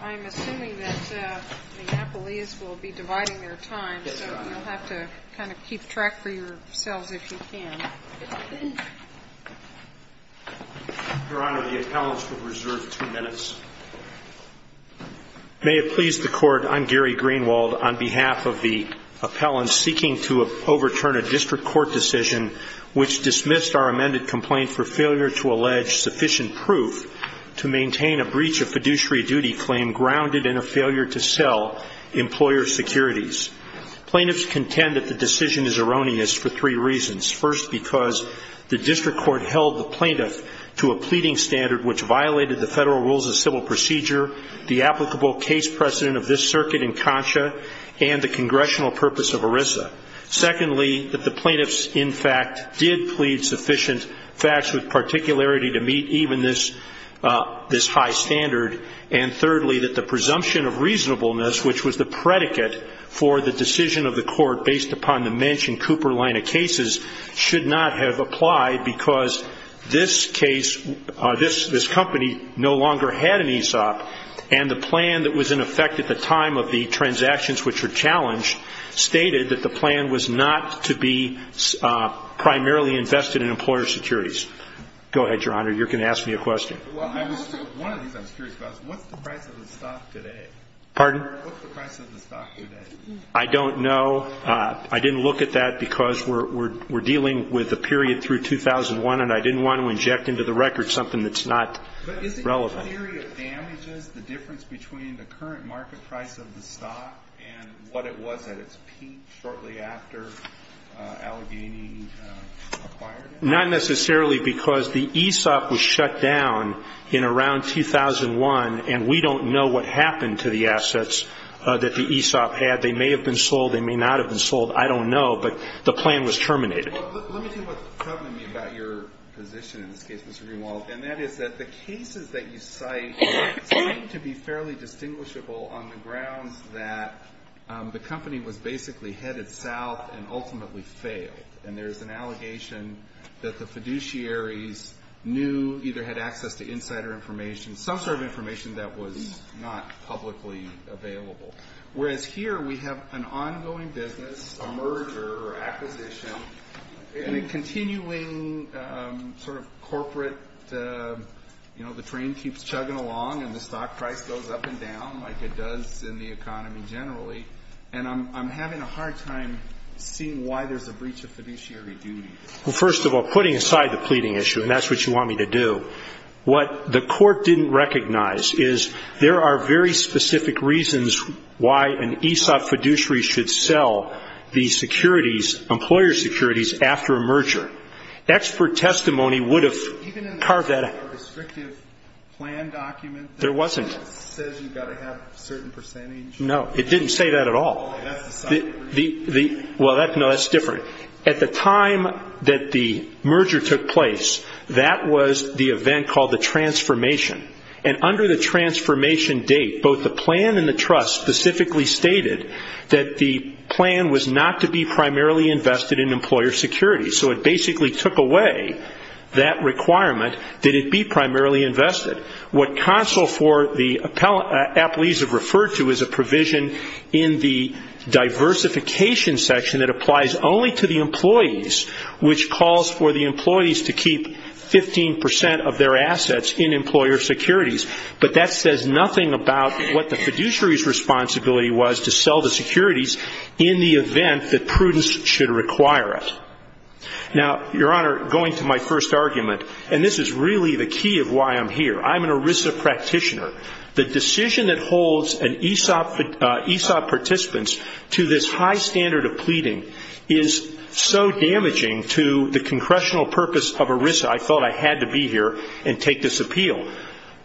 I'm assuming that the Napolese will be dividing their time, so you'll have to kind of keep track for yourselves if you can. Your Honor, the appellants will reserve two minutes. May it please the Court, I'm Gary Greenwald on behalf of the appellants seeking to overturn a district court decision which dismissed our amended complaint for failure to allege sufficient proof to maintain a breach of fiduciary duty claim grounded in a failure to sell employer securities. Plaintiffs contend that the decision is erroneous for three reasons. First, because the district court held the plaintiff to a pleading standard which violated the federal rules of civil procedure, the applicable case precedent of this circuit in Concha, and the congressional purpose of ERISA. Secondly, that the plaintiffs, in fact, did plead sufficient facts with particularity to meet even this high standard. And thirdly, that the presumption of reasonableness, which was the predicate for the decision of the court based upon the mentioned Cooper line of cases, should not have applied because this case, this company, no longer had an ESOP. And the plan that was in effect at the time of the transactions which were challenged stated that the plan was not to be primarily invested in employer securities. Go ahead, Your Honor. You're going to ask me a question. Pardon? I don't know. I didn't look at that because we're dealing with a period through 2001, and I didn't want to inject into the record something that's not relevant. The theory of damages, the difference between the current market price of the stock and what it was at its peak shortly after Allegheny acquired it? Not necessarily because the ESOP was shut down in around 2001, and we don't know what happened to the assets that the ESOP had. They may have been sold. They may not have been sold. I don't know. But the plan was terminated. Let me tell you what's troubling me about your position in this case, Mr. Greenwald, and that is that the cases that you cite seem to be fairly distinguishable on the grounds that the company was basically headed south and ultimately failed. And there's an allegation that the fiduciaries knew, either had access to insider information, some sort of information that was not publicly available. Whereas here we have an ongoing business, a merger or acquisition, and a continuing sort of corporate, you know, the train keeps chugging along and the stock price goes up and down like it does in the economy generally. And I'm having a hard time seeing why there's a breach of fiduciary duty. Well, first of all, putting aside the pleading issue, and that's what you want me to do, what the court didn't recognize is there are very specific reasons why an ESOP fiduciary should sell these securities, employer securities, after a merger. Expert testimony would have carved that out. Even in the restrictive plan document? There wasn't. It says you've got to have a certain percentage? No, it didn't say that at all. Well, no, that's different. At the time that the merger took place, that was the event called the transformation. And under the transformation date, both the plan and the trust specifically stated that the plan was not to be primarily invested in employer securities. So it basically took away that requirement that it be primarily invested. What counsel for the appellees have referred to is a provision in the diversification section that applies only to the employees, which calls for the employees to keep 15 percent of their assets in employer securities. But that says nothing about what the fiduciary's responsibility was to sell the securities in the event that prudence should require it. Now, Your Honor, going to my first argument, and this is really the key of why I'm here, I'm an ERISA practitioner. The decision that holds an ESOP participant to this high standard of pleading is so damaging to the congressional purpose of ERISA. I thought I had to be here and take this appeal.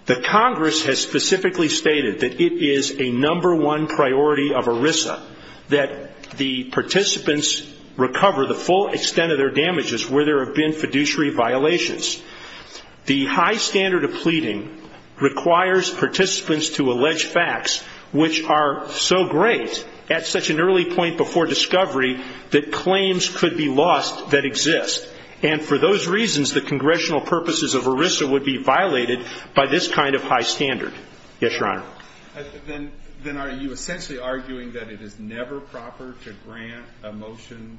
The Congress has specifically stated that it is a number one priority of ERISA, that the participants recover the full extent of their damages where there have been fiduciary violations. The high standard of pleading requires participants to allege facts which are so great at such an early point before discovery that claims could be lost that exist. And for those reasons, the congressional purposes of ERISA would be violated by this kind of high standard. Yes, Your Honor. Then are you essentially arguing that it is never proper to grant a motion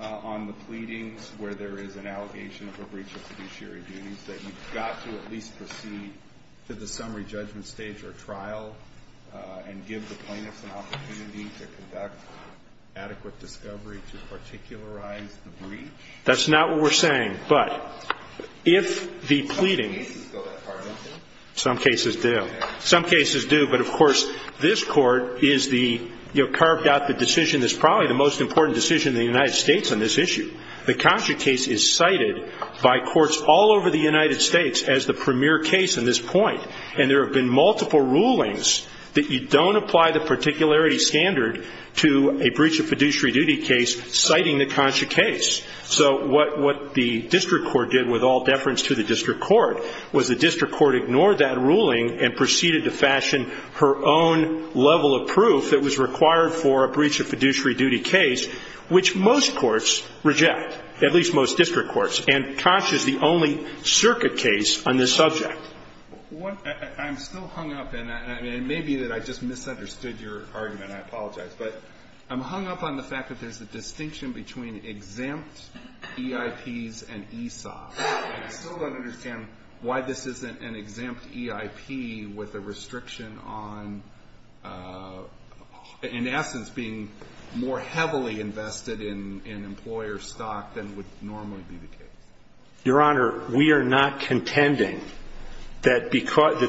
on the pleadings where there is an allegation of a breach of fiduciary duties, that you've got to at least proceed to the summary judgment stage or trial and give the plaintiffs an opportunity to conduct adequate discovery to particularize the breach? That's not what we're saying. But if the pleading – Some cases go that far, don't they? Some cases do. Some cases do. But, of course, this Court is the – you know, carved out the decision that's probably the most important decision in the United States on this issue. The Contra case is cited by courts all over the United States as the premier case in this point. And there have been multiple rulings that you don't apply the particularity standard to a breach of fiduciary duty case citing the Contra case. So what the district court did with all deference to the district court was the district court ignored that ruling and proceeded to fashion her own level of proof that was required for a breach of fiduciary duty case, which most courts reject, at least most district courts. And Tosch is the only circuit case on this subject. I'm still hung up. And it may be that I just misunderstood your argument. I apologize. But I'm hung up on the fact that there's a distinction between exempt EIPs and ESOPs. And I still don't understand why this isn't an exempt EIP with a restriction on, in essence, being more heavily invested in employer stock than would normally be the case. Your Honor, we are not contending that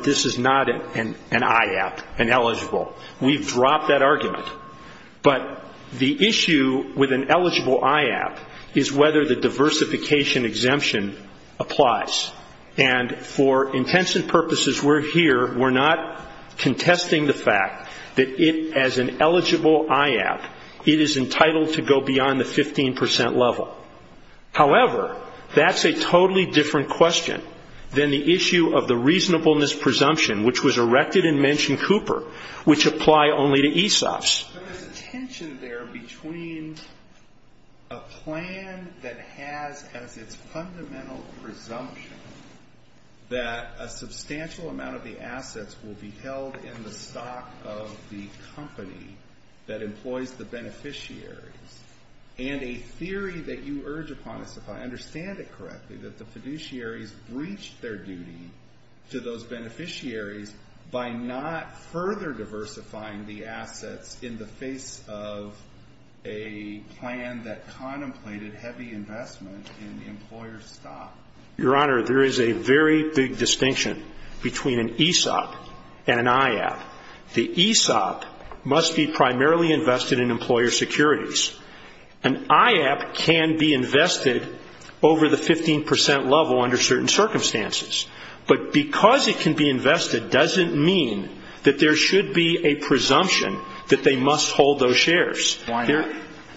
this is not an IAP, an eligible. We've dropped that argument. But the issue with an eligible IAP is whether the diversification exemption applies. And for intents and purposes, we're here. We're not contesting the fact that it, as an eligible IAP, it is entitled to go beyond the 15 percent level. However, that's a totally different question than the issue of the reasonableness presumption, which was erected in Mention Cooper, which apply only to ESOPs. But there's a tension there between a plan that has as its fundamental presumption that a substantial amount of the assets will be held in the stock of the company that employs the beneficiaries, and a theory that you urge upon us, if I understand it correctly, that the fiduciaries breached their duty to those beneficiaries by not further diversifying the assets in the face of a plan that contemplated heavy investment in employer stock. Your Honor, there is a very big distinction between an ESOP and an IAP. The ESOP must be primarily invested in employer securities. An IAP can be invested over the 15 percent level under certain circumstances. But because it can be invested doesn't mean that there should be a presumption that they must hold those shares. Why not?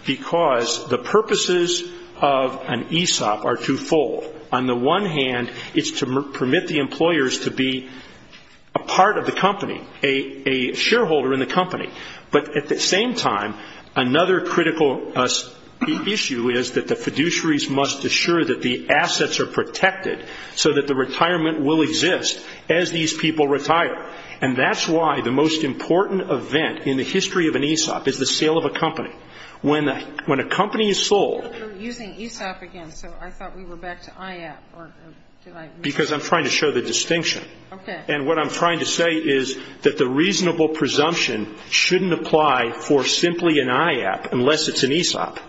Because the purposes of an ESOP are twofold. On the one hand, it's to permit the employers to be a part of the company, a shareholder in the company. But at the same time, another critical issue is that the fiduciaries must assure that the assets are protected so that the retirement will exist as these people retire. And that's why the most important event in the history of an ESOP is the sale of a company. When a company is sold ñ You're using ESOP again, so I thought we were back to IAP. Because I'm trying to show the distinction. Okay. And what I'm trying to say is that the reasonable presumption shouldn't apply for simply an IAP unless it's an ESOP.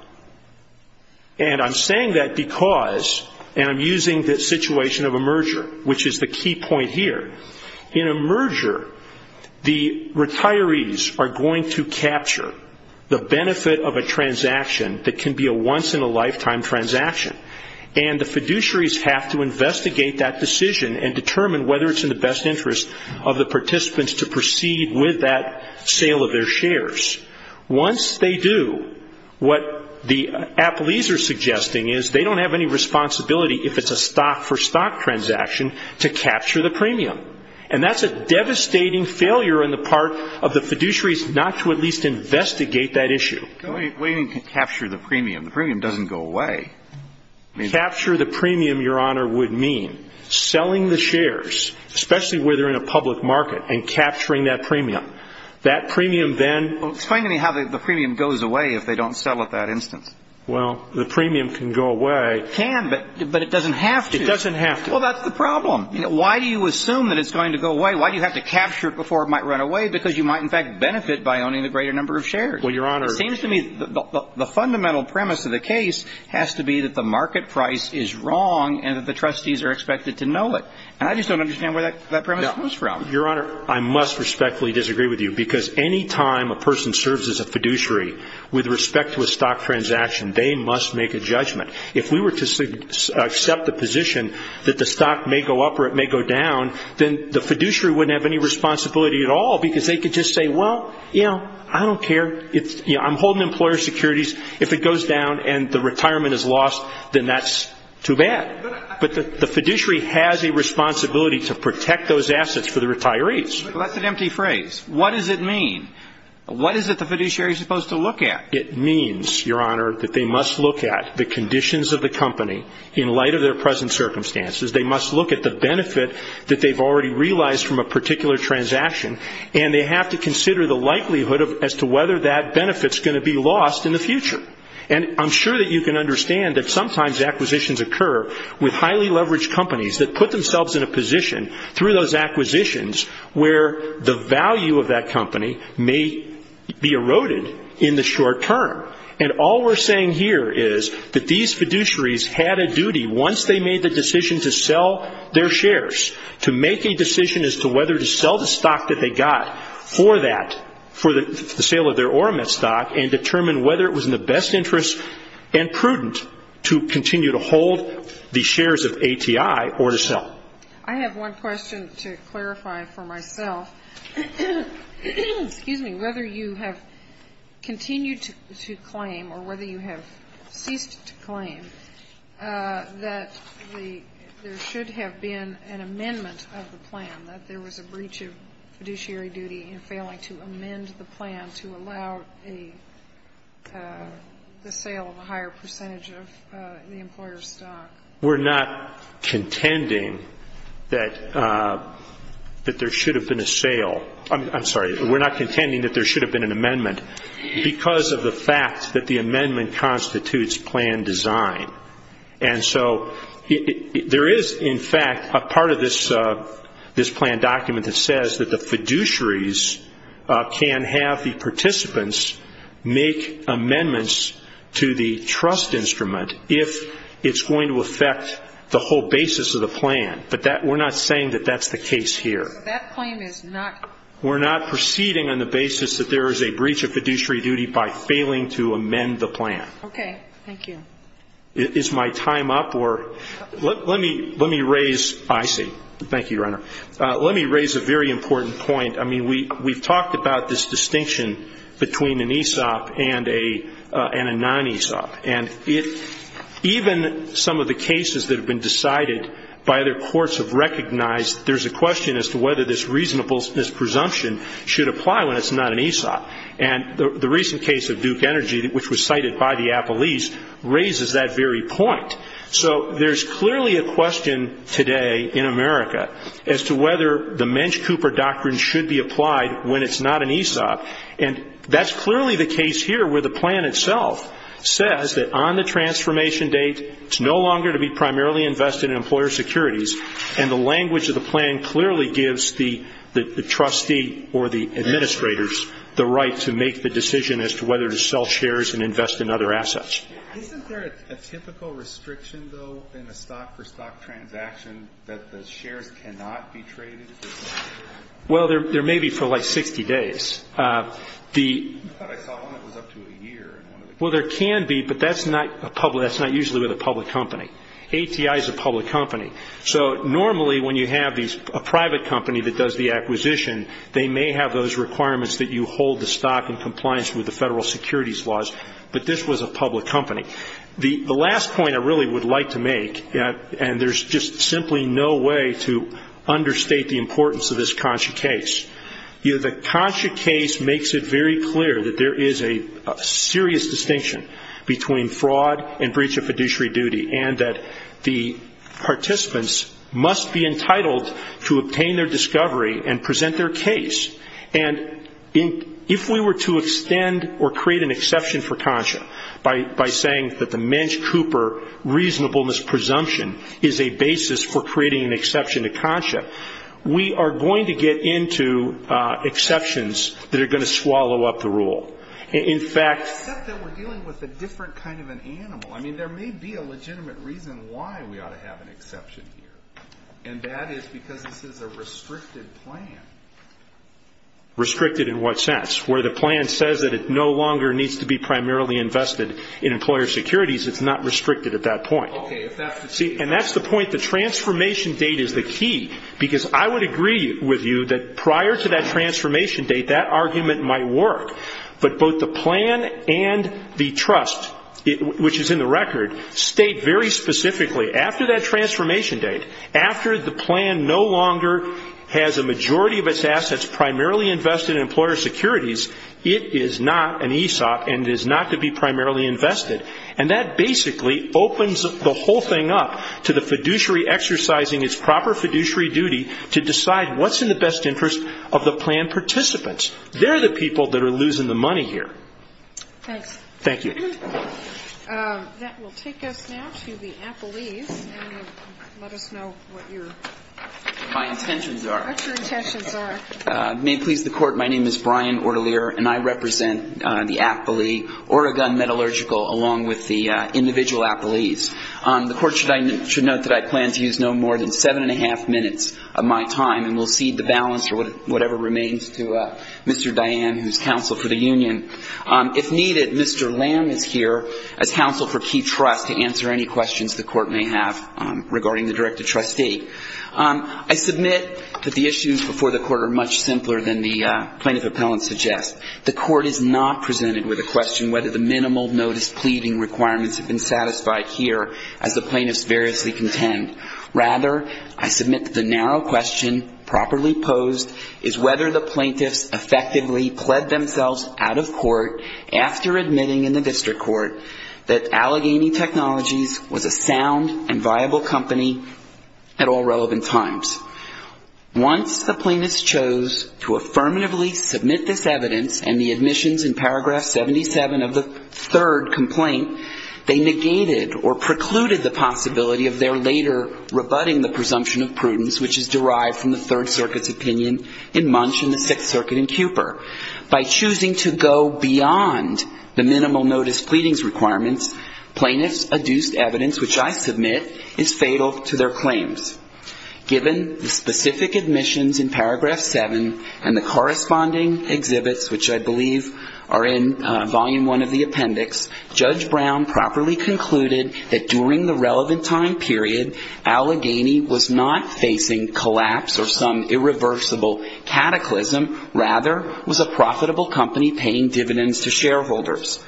And I'm saying that because ñ and I'm using the situation of a merger, which is the key point here. In a merger, the retirees are going to capture the benefit of a transaction that can be a once-in-a-lifetime transaction. And the fiduciaries have to investigate that decision and determine whether it's in the best interest of the participants to proceed with that sale of their shares. Once they do, what the Applees are suggesting is they don't have any responsibility, if it's a stock-for-stock transaction, to capture the premium. And that's a devastating failure on the part of the fiduciaries not to at least investigate that issue. We didn't capture the premium. The premium doesn't go away. Capture the premium, Your Honor, would mean selling the shares, especially where they're in a public market, and capturing that premium. That premium then ñ Explain to me how the premium goes away if they don't sell at that instance. Well, the premium can go away. It can, but it doesn't have to. It doesn't have to. Well, that's the problem. Why do you assume that it's going to go away? Why do you have to capture it before it might run away? Because you might, in fact, benefit by owning a greater number of shares. Well, Your Honor ñ It seems to me the fundamental premise of the case has to be that the market price is wrong and that the trustees are expected to know it. And I just don't understand where that premise comes from. Your Honor, I must respectfully disagree with you, because any time a person serves as a fiduciary with respect to a stock transaction, they must make a judgment. If we were to accept the position that the stock may go up or it may go down, then the fiduciary wouldn't have any responsibility at all, because they could just say, well, you know, I don't care. I'm holding employer securities. If it goes down and the retirement is lost, then that's too bad. But the fiduciary has a responsibility to protect those assets for the retirees. Well, that's an empty phrase. What does it mean? What is it the fiduciary is supposed to look at? It means, Your Honor, that they must look at the conditions of the company in light of their present circumstances. They must look at the benefit that they've already realized from a particular transaction, and they have to consider the likelihood as to whether that benefit is going to be lost in the future. And I'm sure that you can understand that sometimes acquisitions occur with highly leveraged companies that put themselves in a position through those acquisitions where the value of that company may be eroded in the short term. And all we're saying here is that these fiduciaries had a duty, once they made the decision to sell their shares, to make a decision as to whether to sell the stock that they got for that, for the sale of their Oramet stock, and determine whether it was in the best interest and prudent to continue to hold the shares of ATI or to sell. I have one question to clarify for myself. Excuse me. Whether you have continued to claim or whether you have ceased to claim that there should have been an amendment of the plan, that there was a breach of fiduciary duty in failing to amend the plan to allow the sale of a higher percentage of the employer's stock. We're not contending that there should have been a sale. I'm sorry, we're not contending that there should have been an amendment because of the fact that the amendment constitutes plan design. And so there is, in fact, a part of this plan document that says that the fiduciaries can have the participants make amendments to the trust instrument if it's going to affect the whole basis of the plan. But we're not saying that that's the case here. So that claim is not? We're not proceeding on the basis that there is a breach of fiduciary duty by failing to amend the plan. Okay, thank you. Is my time up or? Let me raise, I see. Thank you, Your Honor. Let me raise a very important point. I mean, we've talked about this distinction between an ESOP and a non-ESOP, and even some of the cases that have been decided by other courts have recognized there's a question as to whether this reasonableness presumption should apply when it's not an ESOP. And the recent case of Duke Energy, which was cited by the Apple East, raises that very point. So there's clearly a question today in America as to whether the Mensch-Cooper doctrine should be applied when it's not an ESOP. And that's clearly the case here where the plan itself says that on the transformation date, it's no longer to be primarily invested in employer securities, and the language of the plan clearly gives the trustee or the administrators the right to make the decision as to whether to sell shares and invest in other assets. Isn't there a typical restriction, though, in a stock-for-stock transaction that the shares cannot be traded? Well, there may be for like 60 days. I thought I saw one that was up to a year. Well, there can be, but that's not usually with a public company. ATI is a public company. So normally when you have a private company that does the acquisition, they may have those requirements that you hold the stock in compliance with the federal securities laws, but this was a public company. The last point I really would like to make, and there's just simply no way to understate the importance of this conscious case, the conscious case makes it very clear that there is a serious distinction between fraud and breach of fiduciary duty and that the participants must be entitled to obtain their discovery and present their case. And if we were to extend or create an exception for CONSHA by saying that the Mensch-Cooper reasonableness presumption is a basis for creating an exception to CONSHA, we are going to get into exceptions that are going to swallow up the rule. In fact we're dealing with a different kind of an animal. I mean, there may be a legitimate reason why we ought to have an exception here, and that is because this is a restricted plan. Restricted in what sense? Where the plan says that it no longer needs to be primarily invested in employer securities, it's not restricted at that point. And that's the point, the transformation date is the key, because I would agree with you that prior to that transformation date that argument might work, but both the plan and the trust, which is in the record, state very specifically after that transformation date, after the plan no longer has a majority of its assets primarily invested in employer securities, it is not an ESOP and is not to be primarily invested. And that basically opens the whole thing up to the fiduciary exercising its proper fiduciary duty to decide what's in the best interest of the plan participants. They're the people that are losing the money here. Thanks. Thank you. That will take us now to the appellees. Let us know what your intentions are. What your intentions are. May it please the Court, my name is Brian Ortelier, and I represent the appellee Oregon Metallurgical along with the individual appellees. The Court should note that I plan to use no more than 7 1⁄2 minutes of my time, and will cede the balance or whatever remains to Mr. Diane, who is counsel for the union. If needed, Mr. Lamb is here as counsel for Key Trust to answer any questions the Court may have regarding the Director-Trustee. I submit that the issues before the Court are much simpler than the plaintiff appellant suggests. The Court is not presented with a question whether the minimal notice pleading requirements have been satisfied here, as the plaintiffs variously contend. Rather, I submit that the narrow question properly posed is whether the plaintiffs effectively pled themselves out of court after admitting in the district court that Allegheny Technologies was a sound and viable company at all relevant times. Once the plaintiffs chose to affirmatively submit this evidence and the admissions in paragraph 77 of the third complaint, they negated or precluded the possibility of their later rebutting the presumption of prudence, which is derived from the Third Circuit's opinion in Munch and the Sixth Circuit in Cooper. By choosing to go beyond the minimal notice pleadings requirements, plaintiffs' adduced evidence, which I submit, is fatal to their claims. Given the specific admissions in paragraph 7 and the corresponding exhibits, which I believe are in volume one of the appendix, Judge Brown properly concluded that during the relevant time period, Allegheny was not facing collapse or some irreversible cataclysm. Rather, it was a profitable company paying dividends to shareholders.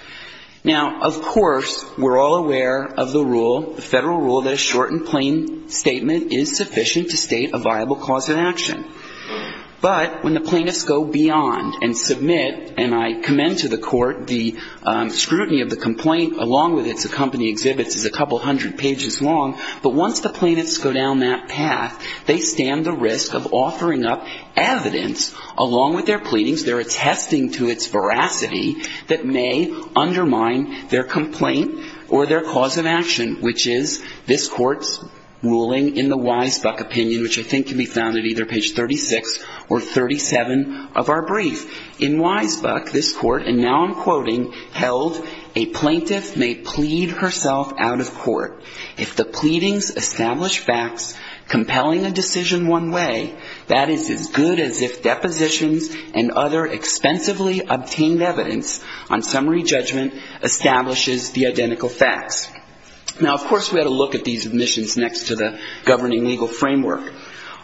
Now, of course, we're all aware of the rule, the federal rule, that a shortened plain statement is sufficient to state a viable cause of action. But when the plaintiffs go beyond and submit, and I commend to the court the scrutiny of the complaint, along with its accompanying exhibits, is a couple hundred pages long, but once the plaintiffs go down that path, they stand the risk of offering up evidence, along with their pleadings, their attesting to its veracity, that may undermine their complaint or their cause of action, which is this Court's ruling in the Weisbach opinion, which I think can be found at either page 36 or 37 of our brief. In Weisbach, this Court, and now I'm quoting, held, a plaintiff may plead herself out of court. If the pleadings establish facts compelling a decision one way, that is as good as if depositions and other expensively obtained evidence on summary judgment establishes the identical facts. Now, of course, we ought to look at these admissions next to the governing legal framework.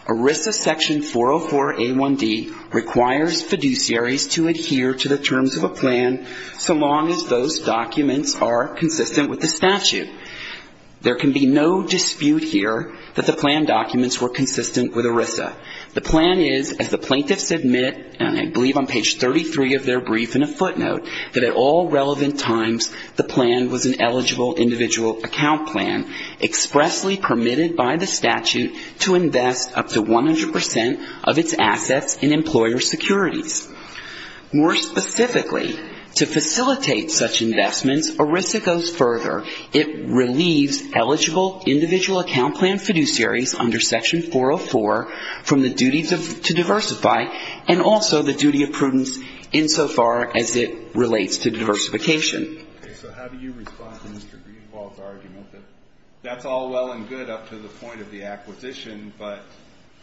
ERISA section 404A1D requires fiduciaries to adhere to the terms of a plan so long as those documents are consistent with the statute. There can be no dispute here that the plan documents were consistent with ERISA. The plan is, as the plaintiffs admit, I believe on page 33 of their brief in a footnote, that at all relevant times the plan was an eligible individual account plan expressly permitted by the statute to invest up to 100 percent of its assets in employer securities. More specifically, to facilitate such investments, ERISA goes further. It relieves eligible individual account plan fiduciaries under section 404 from the duties to diversify and also the duty of prudence insofar as it relates to diversification. So how do you respond to Mr. Greenwald's argument that that's all well and good up to the point of the acquisition, but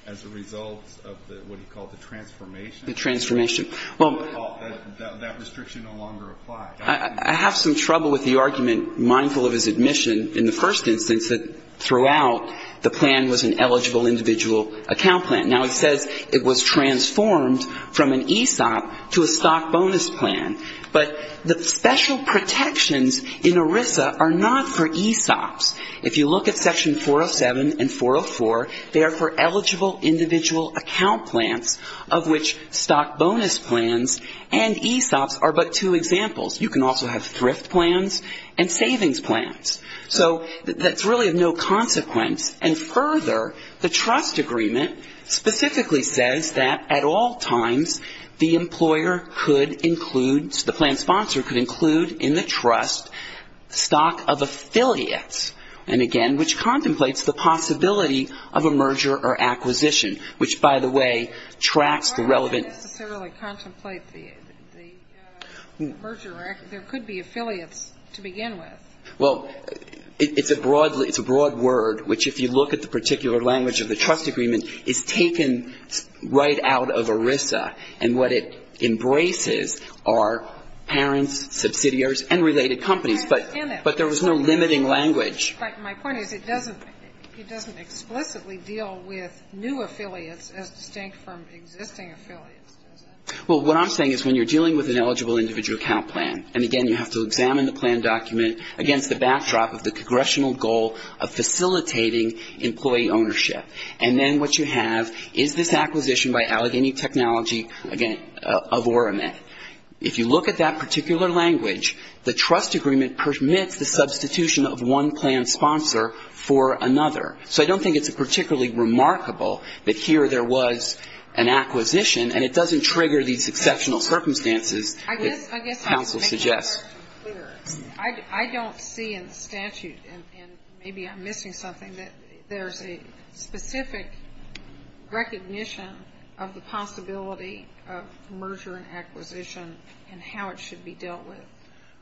as a result of what he called the transformation? The transformation. Well, that restriction no longer applies. I have some trouble with the argument, mindful of his admission in the first instance, that throughout the plan was an eligible individual account plan. Now, he says it was transformed from an ESOP to a stock bonus plan. But the special protections in ERISA are not for ESOPs. If you look at section 407 and 404, they are for eligible individual account plans, of which stock bonus plans and ESOPs are but two examples. You can also have thrift plans and savings plans. So that's really of no consequence. And further, the trust agreement specifically says that at all times the employer could include, the plan sponsor could include in the trust stock of affiliates, and again, which contemplates the possibility of a merger or acquisition, which, by the way, tracks the relevant. It doesn't necessarily contemplate the merger. There could be affiliates to begin with. Well, it's a broad word, which if you look at the particular language of the trust agreement, is taken right out of ERISA. And what it embraces are parents, subsidiaries, and related companies. But there was no limiting language. But my point is it doesn't explicitly deal with new affiliates as distinct from existing affiliates, does it? Well, what I'm saying is when you're dealing with an eligible individual account plan, and again, you have to examine the plan document against the backdrop of the congressional goal of facilitating employee ownership. And then what you have is this acquisition by Allegheny Technology of Orometh. If you look at that particular language, the trust agreement permits the substitution of one plan sponsor for another. So I don't think it's particularly remarkable that here there was an acquisition, and it doesn't trigger these exceptional circumstances that counsel suggests. I don't see in the statute, and maybe I'm missing something, that there's a specific recognition of the possibility of merger and acquisition and how it should be dealt with.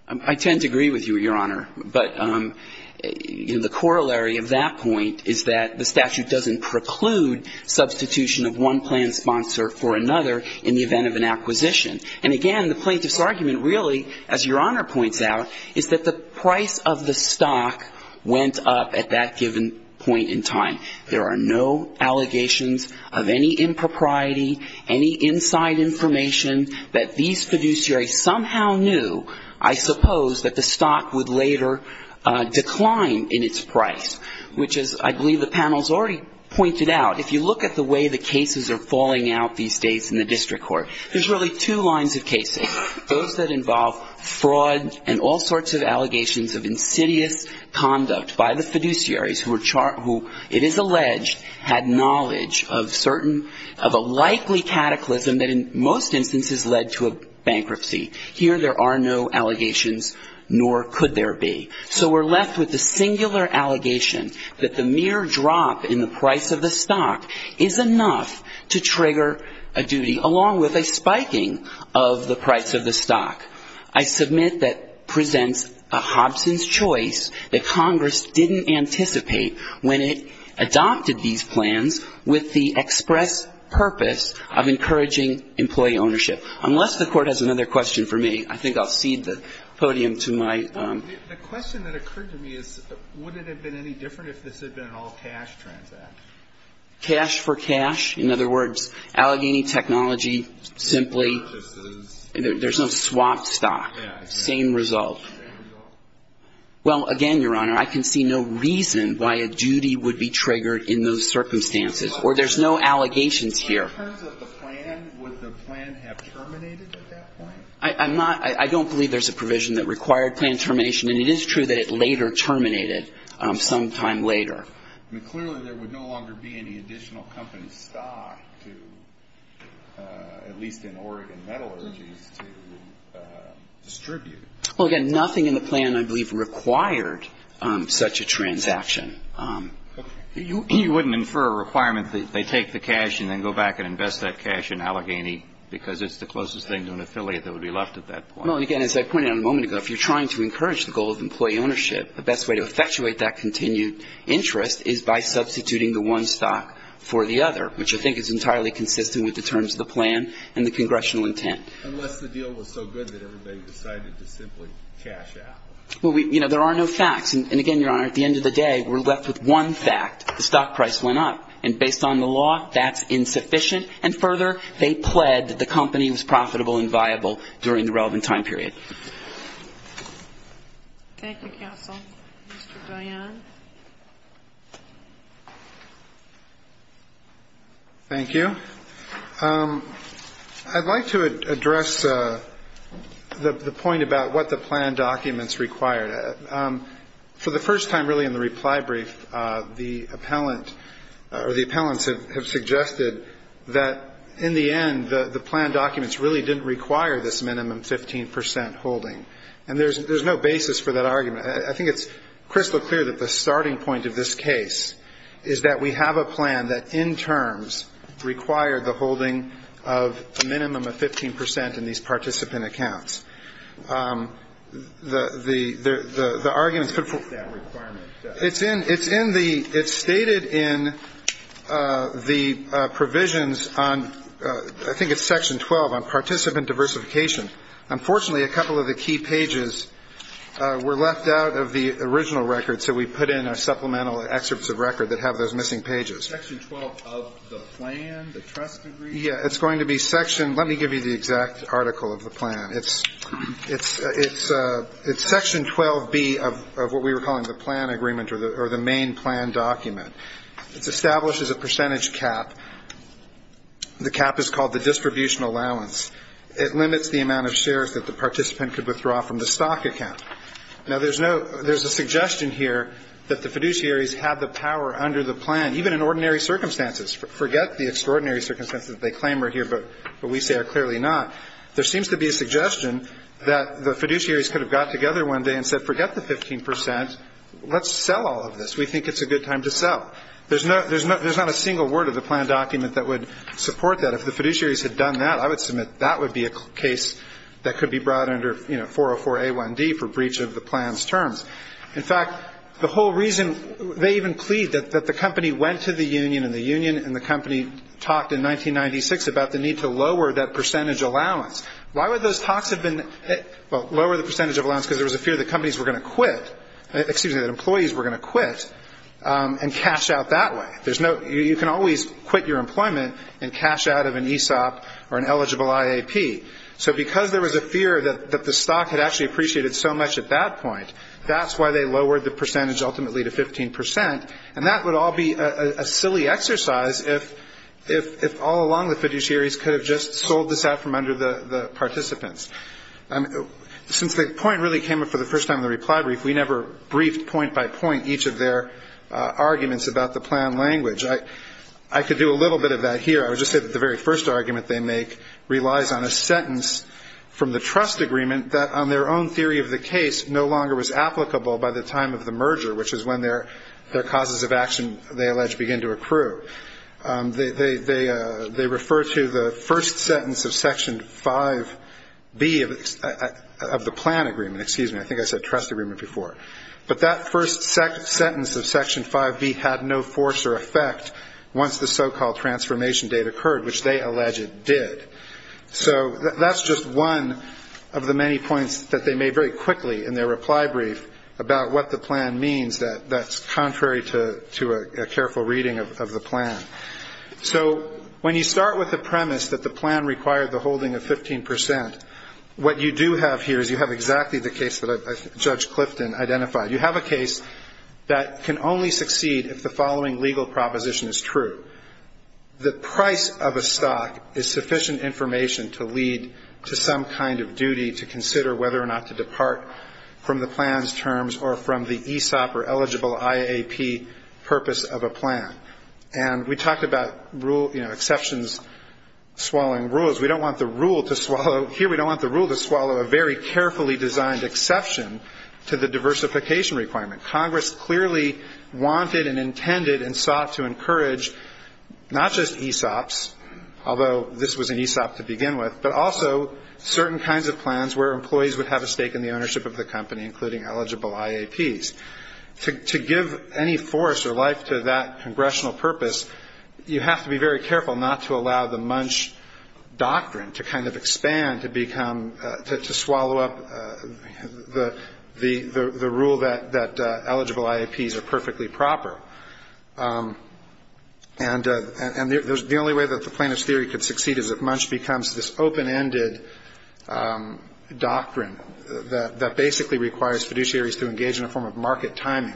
I tend to agree with you, Your Honor. But the corollary of that point is that the statute doesn't preclude substitution of one plan sponsor for another in the event of an acquisition. And again, the plaintiff's argument really, as Your Honor points out, is that the price of the stock went up at that given point in time. There are no allegations of any impropriety, any inside information, that these fiduciaries somehow knew, I suppose, that the stock would later decline in its price, which is, I believe the panel's already pointed out. If you look at the way the cases are falling out these days in the district court, there's really two lines of cases. Those that involve fraud and all sorts of allegations of insidious conduct by the fiduciaries who it is alleged had knowledge of a likely cataclysm that in most instances led to a bankruptcy. Here there are no allegations, nor could there be. So we're left with the singular allegation that the mere drop in the price of the stock is enough to trigger a duty, along with a spiking of the price of the stock. I submit that presents a Hobson's choice that Congress didn't anticipate when it adopted these plans with the express purpose of encouraging employee ownership. Unless the Court has another question for me, I think I'll cede the podium to my own. The question that occurred to me is, would it have been any different if this had been an all-cash transact? Cash for cash? In other words, Allegheny Technology simply – There's no swap stock. Same result. Well, again, Your Honor, I can see no reason why a duty would be triggered in those circumstances. Or there's no allegations here. In terms of the plan, would the plan have terminated at that point? I'm not – I don't believe there's a provision that required plan termination. And it is true that it later terminated sometime later. Clearly, there would no longer be any additional company stock to, at least in Oregon metallurgies, to distribute. Well, again, nothing in the plan, I believe, required such a transaction. You wouldn't infer a requirement that they take the cash and then go back and invest that cash in Allegheny because it's the closest thing to an affiliate that would be left at that point. Well, again, as I pointed out a moment ago, if you're trying to encourage the goal of employee ownership, the best way to effectuate that continued interest is by substituting the one stock for the other, which I think is entirely consistent with the terms of the plan and the congressional intent. Unless the deal was so good that everybody decided to simply cash out. Well, we – you know, there are no facts. And, again, Your Honor, at the end of the day, we're left with one fact. The stock price went up. And based on the law, that's insufficient. And further, they pled that the company was profitable and viable during the relevant time period. Thank you, counsel. Mr. Dionne. Thank you. I'd like to address the point about what the plan documents required. For the first time, really, in the reply brief, the appellant or the appellants have suggested that, in the end, the plan documents really didn't require this minimum 15 percent holding. And there's no basis for that argument. I think it's crystal clear that the starting point of this case is that we have a plan that, in terms, required the holding of a minimum of 15 percent in these participant accounts. The argument is put forth. It's in the – it's stated in the provisions on – I think it's Section 12 on participant diversification. Unfortunately, a couple of the key pages were left out of the original record, so we put in our supplemental excerpts of record that have those missing pages. Section 12 of the plan, the trust agreement? Yeah, it's going to be Section – let me give you the exact article of the plan. It's Section 12B of what we were calling the plan agreement or the main plan document. It establishes a percentage cap. The cap is called the distribution allowance. It limits the amount of shares that the participant could withdraw from the stock account. Now, there's no – there's a suggestion here that the fiduciaries have the power under the plan, even in ordinary circumstances. Forget the extraordinary circumstances that they claim are here, but we say are clearly not. There seems to be a suggestion that the fiduciaries could have got together one day and said, forget the 15 percent. Let's sell all of this. We think it's a good time to sell. There's not a single word of the plan document that would support that. If the fiduciaries had done that, I would submit that would be a case that could be brought under, you know, 404A1D for breach of the plan's terms. In fact, the whole reason – they even plead that the company went to the union, and the company talked in 1996 about the need to lower that percentage allowance. Why would those talks have been – well, lower the percentage of allowance, because there was a fear that companies were going to quit – excuse me, that employees were going to quit and cash out that way. There's no – you can always quit your employment and cash out of an ESOP or an eligible IAP. So because there was a fear that the stock had actually appreciated so much at that point, that's why they lowered the percentage ultimately to 15 percent, and that would all be a silly exercise if all along the fiduciaries could have just sold this out from under the participants. Since the point really came up for the first time in the reply brief, we never briefed point by point each of their arguments about the plan language. I could do a little bit of that here. I would just say that the very first argument they make relies on a sentence from the trust agreement that on their own theory of the case no longer was applicable by the time of the merger, which is when their causes of action, they allege, begin to accrue. They refer to the first sentence of Section 5B of the plan agreement – excuse me, I think I said trust agreement before – but that first sentence of Section 5B had no force or effect once the so-called transformation date occurred, which they allege it did. So that's just one of the many points that they made very quickly in their reply brief about what the plan means that's contrary to a careful reading of the plan. So when you start with the premise that the plan required the holding of 15 percent, what you do have here is you have exactly the case that Judge Clifton identified. You have a case that can only succeed if the following legal proposition is true. The price of a stock is sufficient information to lead to some kind of duty to consider whether or not to depart from the plan's terms or from the ESOP or eligible IAP purpose of a plan. And we talked about exceptions swallowing rules. We don't want the rule to swallow – here we don't want the rule to swallow a very carefully designed exception to the diversification requirement. Congress clearly wanted and intended and sought to encourage not just ESOPs, although this was an ESOP to begin with, but also certain kinds of plans where employees would have a stake in the ownership of the company, including eligible IAPs. To give any force or life to that congressional purpose, you have to be very careful not to allow the Munch doctrine to kind of expand, to become – to swallow up the rule that eligible IAPs are perfectly proper. And the only way that the plaintiff's theory could succeed is if Munch becomes this open-ended doctrine that basically requires fiduciaries to engage in a form of market timing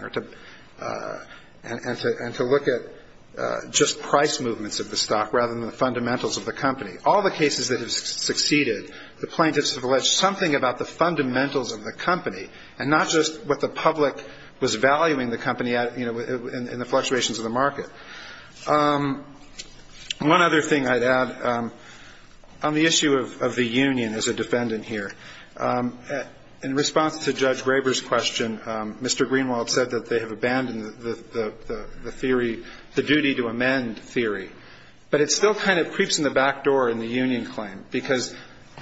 and to look at just price movements of the stock rather than the fundamentals of the company. All the cases that have succeeded, the plaintiffs have alleged something about the fundamentals of the company and not just what the public was valuing the company at in the fluctuations of the market. One other thing I'd add on the issue of the union as a defendant here. In response to Judge Graber's question, Mr. Greenwald said that they have abandoned the theory – the duty to amend theory. But it still kind of creeps in the back door in the union claim because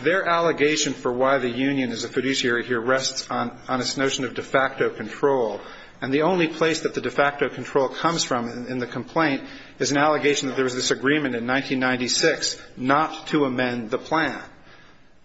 their allegation for why the union is a fiduciary here rests on this notion of de facto control. And the only place that the de facto control comes from in the complaint is an allegation that there was this agreement in 1996 not to amend the plan.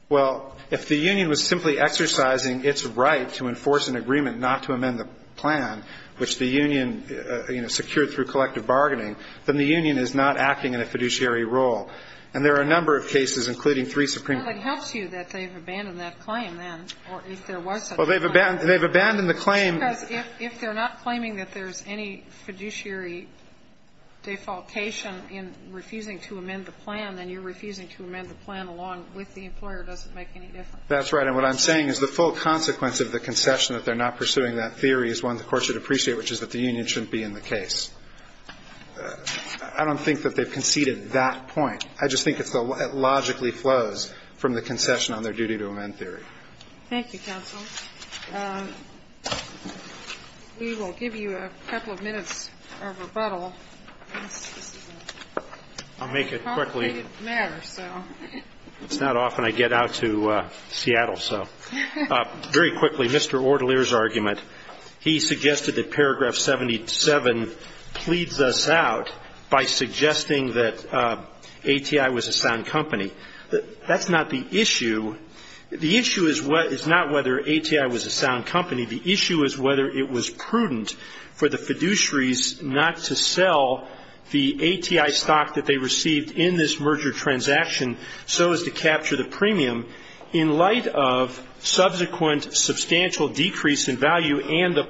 Well, if the union was simply exercising its right to enforce an agreement not to amend the plan, which the union secured through collective bargaining, then the union is not acting in a fiduciary role. And there are a number of cases, including three Supreme Court cases. Well, it helps you that they've abandoned that claim then, or if there was such a claim. Well, they've abandoned the claim. Because if they're not claiming that there's any fiduciary defaultation in refusing to amend the plan, then you're refusing to amend the plan along with the employer doesn't make any difference. That's right. And what I'm saying is the full consequence of the concession that they're not pursuing that theory is one the Court should appreciate, which is that the union shouldn't be in the case. I don't think that they've conceded that point. I just think it logically flows from the concession on their duty to amend theory. Thank you, counsel. We will give you a couple of minutes of rebuttal. I'll make it quickly. It's not often I get out to Seattle, so. Very quickly, Mr. Ortelier's argument. He suggested that paragraph 77 pleads us out by suggesting that ATI was a sound company. That's not the issue. The issue is not whether ATI was a sound company. The issue is whether it was prudent for the fiduciaries not to sell the ATI stock that they received in this merger transaction so as to capture the premium. In light of subsequent substantial decrease in value and the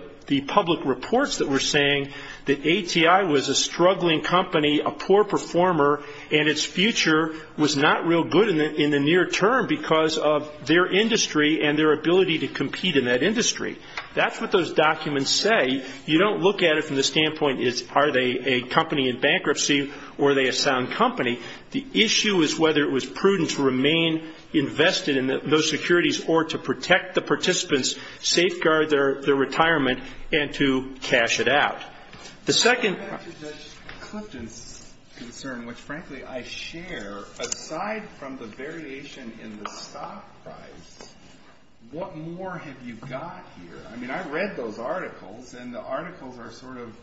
public reports that we're seeing, that ATI was a struggling company, a poor performer, and its future was not real good in the near term because of their industry and their ability to compete in that industry. That's what those documents say. You don't look at it from the standpoint, are they a company in bankruptcy or are they a sound company? The issue is whether it was prudent to remain invested in those securities or to protect the participants, safeguard their retirement, and to cash it out. The second — Back to Judge Clifton's concern, which, frankly, I share. Aside from the variation in the stock price, what more have you got here? I mean, I read those articles, and the articles are sort of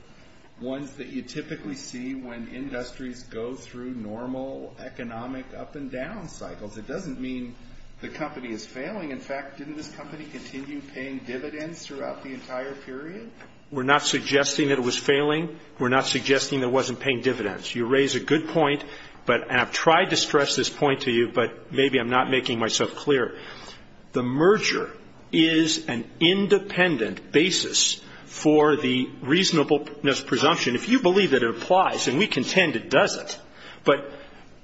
ones that you typically see when industries go through normal economic up-and-down cycles. It doesn't mean the company is failing. In fact, didn't this company continue paying dividends throughout the entire period? We're not suggesting that it was failing. We're not suggesting it wasn't paying dividends. You raise a good point, and I've tried to stress this point to you, but maybe I'm not making myself clear. The merger is an independent basis for the reasonableness presumption. If you believe that it applies, and we contend it doesn't, but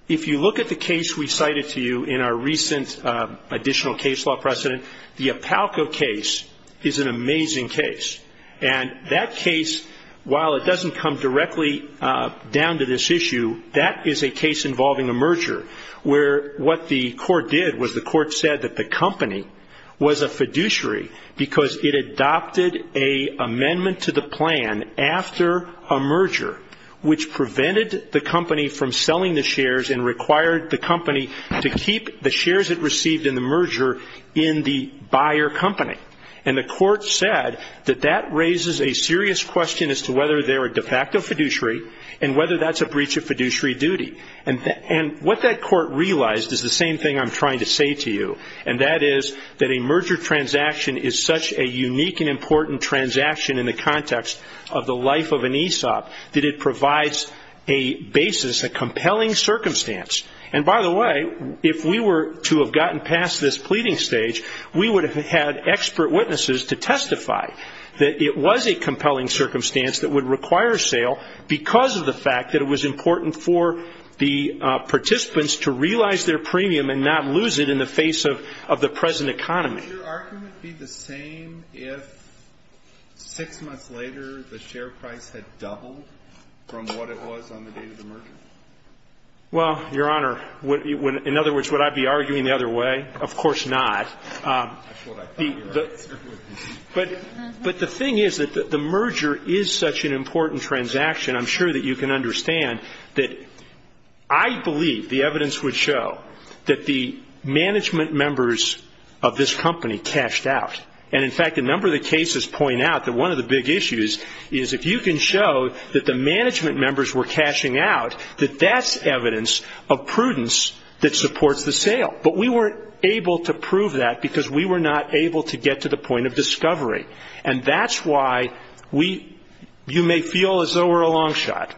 if you look at the case we cited to you in our recent additional case law precedent, the Apalco case is an amazing case. And that case, while it doesn't come directly down to this issue, that is a case involving a merger, where what the court did was the court said that the company was a fiduciary because it adopted an amendment to the plan after a merger, which prevented the company from selling the shares and required the company to keep the shares it received in the merger in the buyer company. And the court said that that raises a serious question as to whether they're a de facto fiduciary and whether that's a breach of fiduciary duty. And what that court realized is the same thing I'm trying to say to you, and that is that a merger transaction is such a unique and important transaction in the context of the life of an ESOP that it provides a basis, a compelling circumstance. And by the way, if we were to have gotten past this pleading stage, we would have had expert witnesses to testify that it was a compelling circumstance that would require sale because of the fact that it was important for the participants to realize their premium and not lose it in the face of the present economy. Would your argument be the same if six months later the share price had doubled from what it was on the day of the merger? Well, Your Honor, in other words, would I be arguing the other way? Of course not. That's what I thought your answer would be. But the thing is that the merger is such an important transaction, I'm sure that you can understand that I believe the evidence would show that the management members of this company cashed out. And, in fact, a number of the cases point out that one of the big issues is if you can show that the management members were cashing out, that that's evidence of prudence that supports the sale. But we weren't able to prove that because we were not able to get to the point of discovery. And that's why you may feel as though we're a long shot.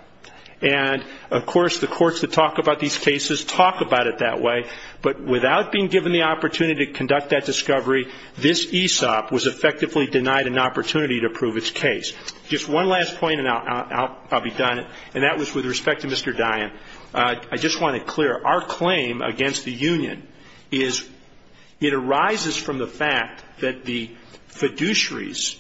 And, of course, the courts that talk about these cases talk about it that way. But without being given the opportunity to conduct that discovery, this ESOP was effectively denied an opportunity to prove its case. Just one last point and I'll be done, and that was with respect to Mr. Dian. I just want to clear. Our claim against the union is it arises from the fact that the fiduciaries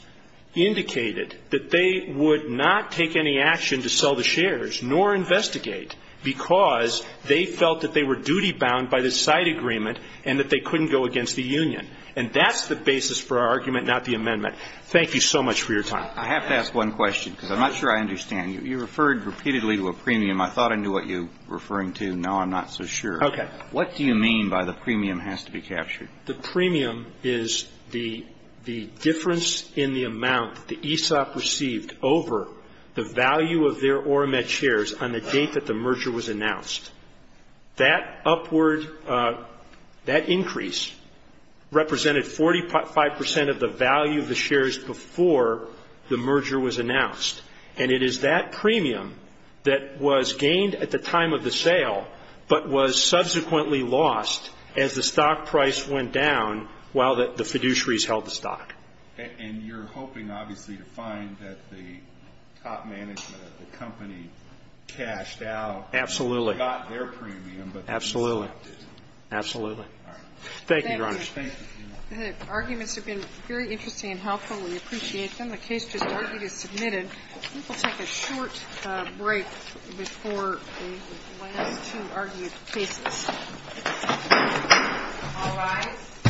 indicated that they would not take any action to sell the shares, nor investigate, because they felt that they were duty-bound by the side agreement and that they couldn't go against the union. And that's the basis for our argument, not the amendment. Thank you so much for your time. I have to ask one question because I'm not sure I understand. You referred repeatedly to a premium. I thought I knew what you were referring to. Now I'm not so sure. Okay. What do you mean by the premium has to be captured? The premium is the difference in the amount that ESOP received over the value of their Oramet shares on the date that the merger was announced. That upward, that increase represented 45 percent of the value of the shares before the merger was announced. And it is that premium that was gained at the time of the sale, but was subsequently lost as the stock price went down while the fiduciaries held the stock. And you're hoping, obviously, to find that the top management of the company cashed out. Absolutely. Not their premium, but ESOP did. Absolutely. All right. Thank you, Your Honor. Thank you. The arguments have been very interesting and helpful. We appreciate them. The case just argued is submitted. We'll take a short break before the last two argued cases. All rise. The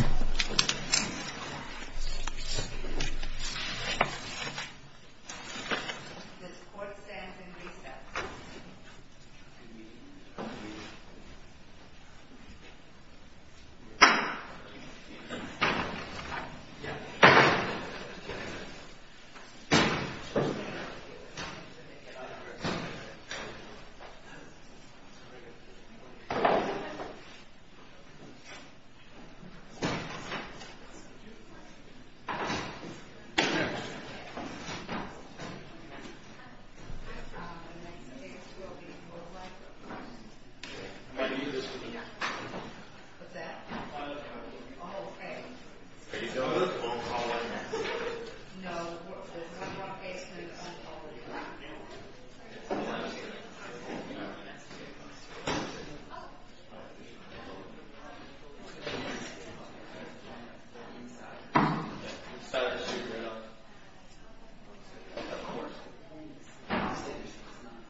court stands in recess. Thank you. The case is submitted.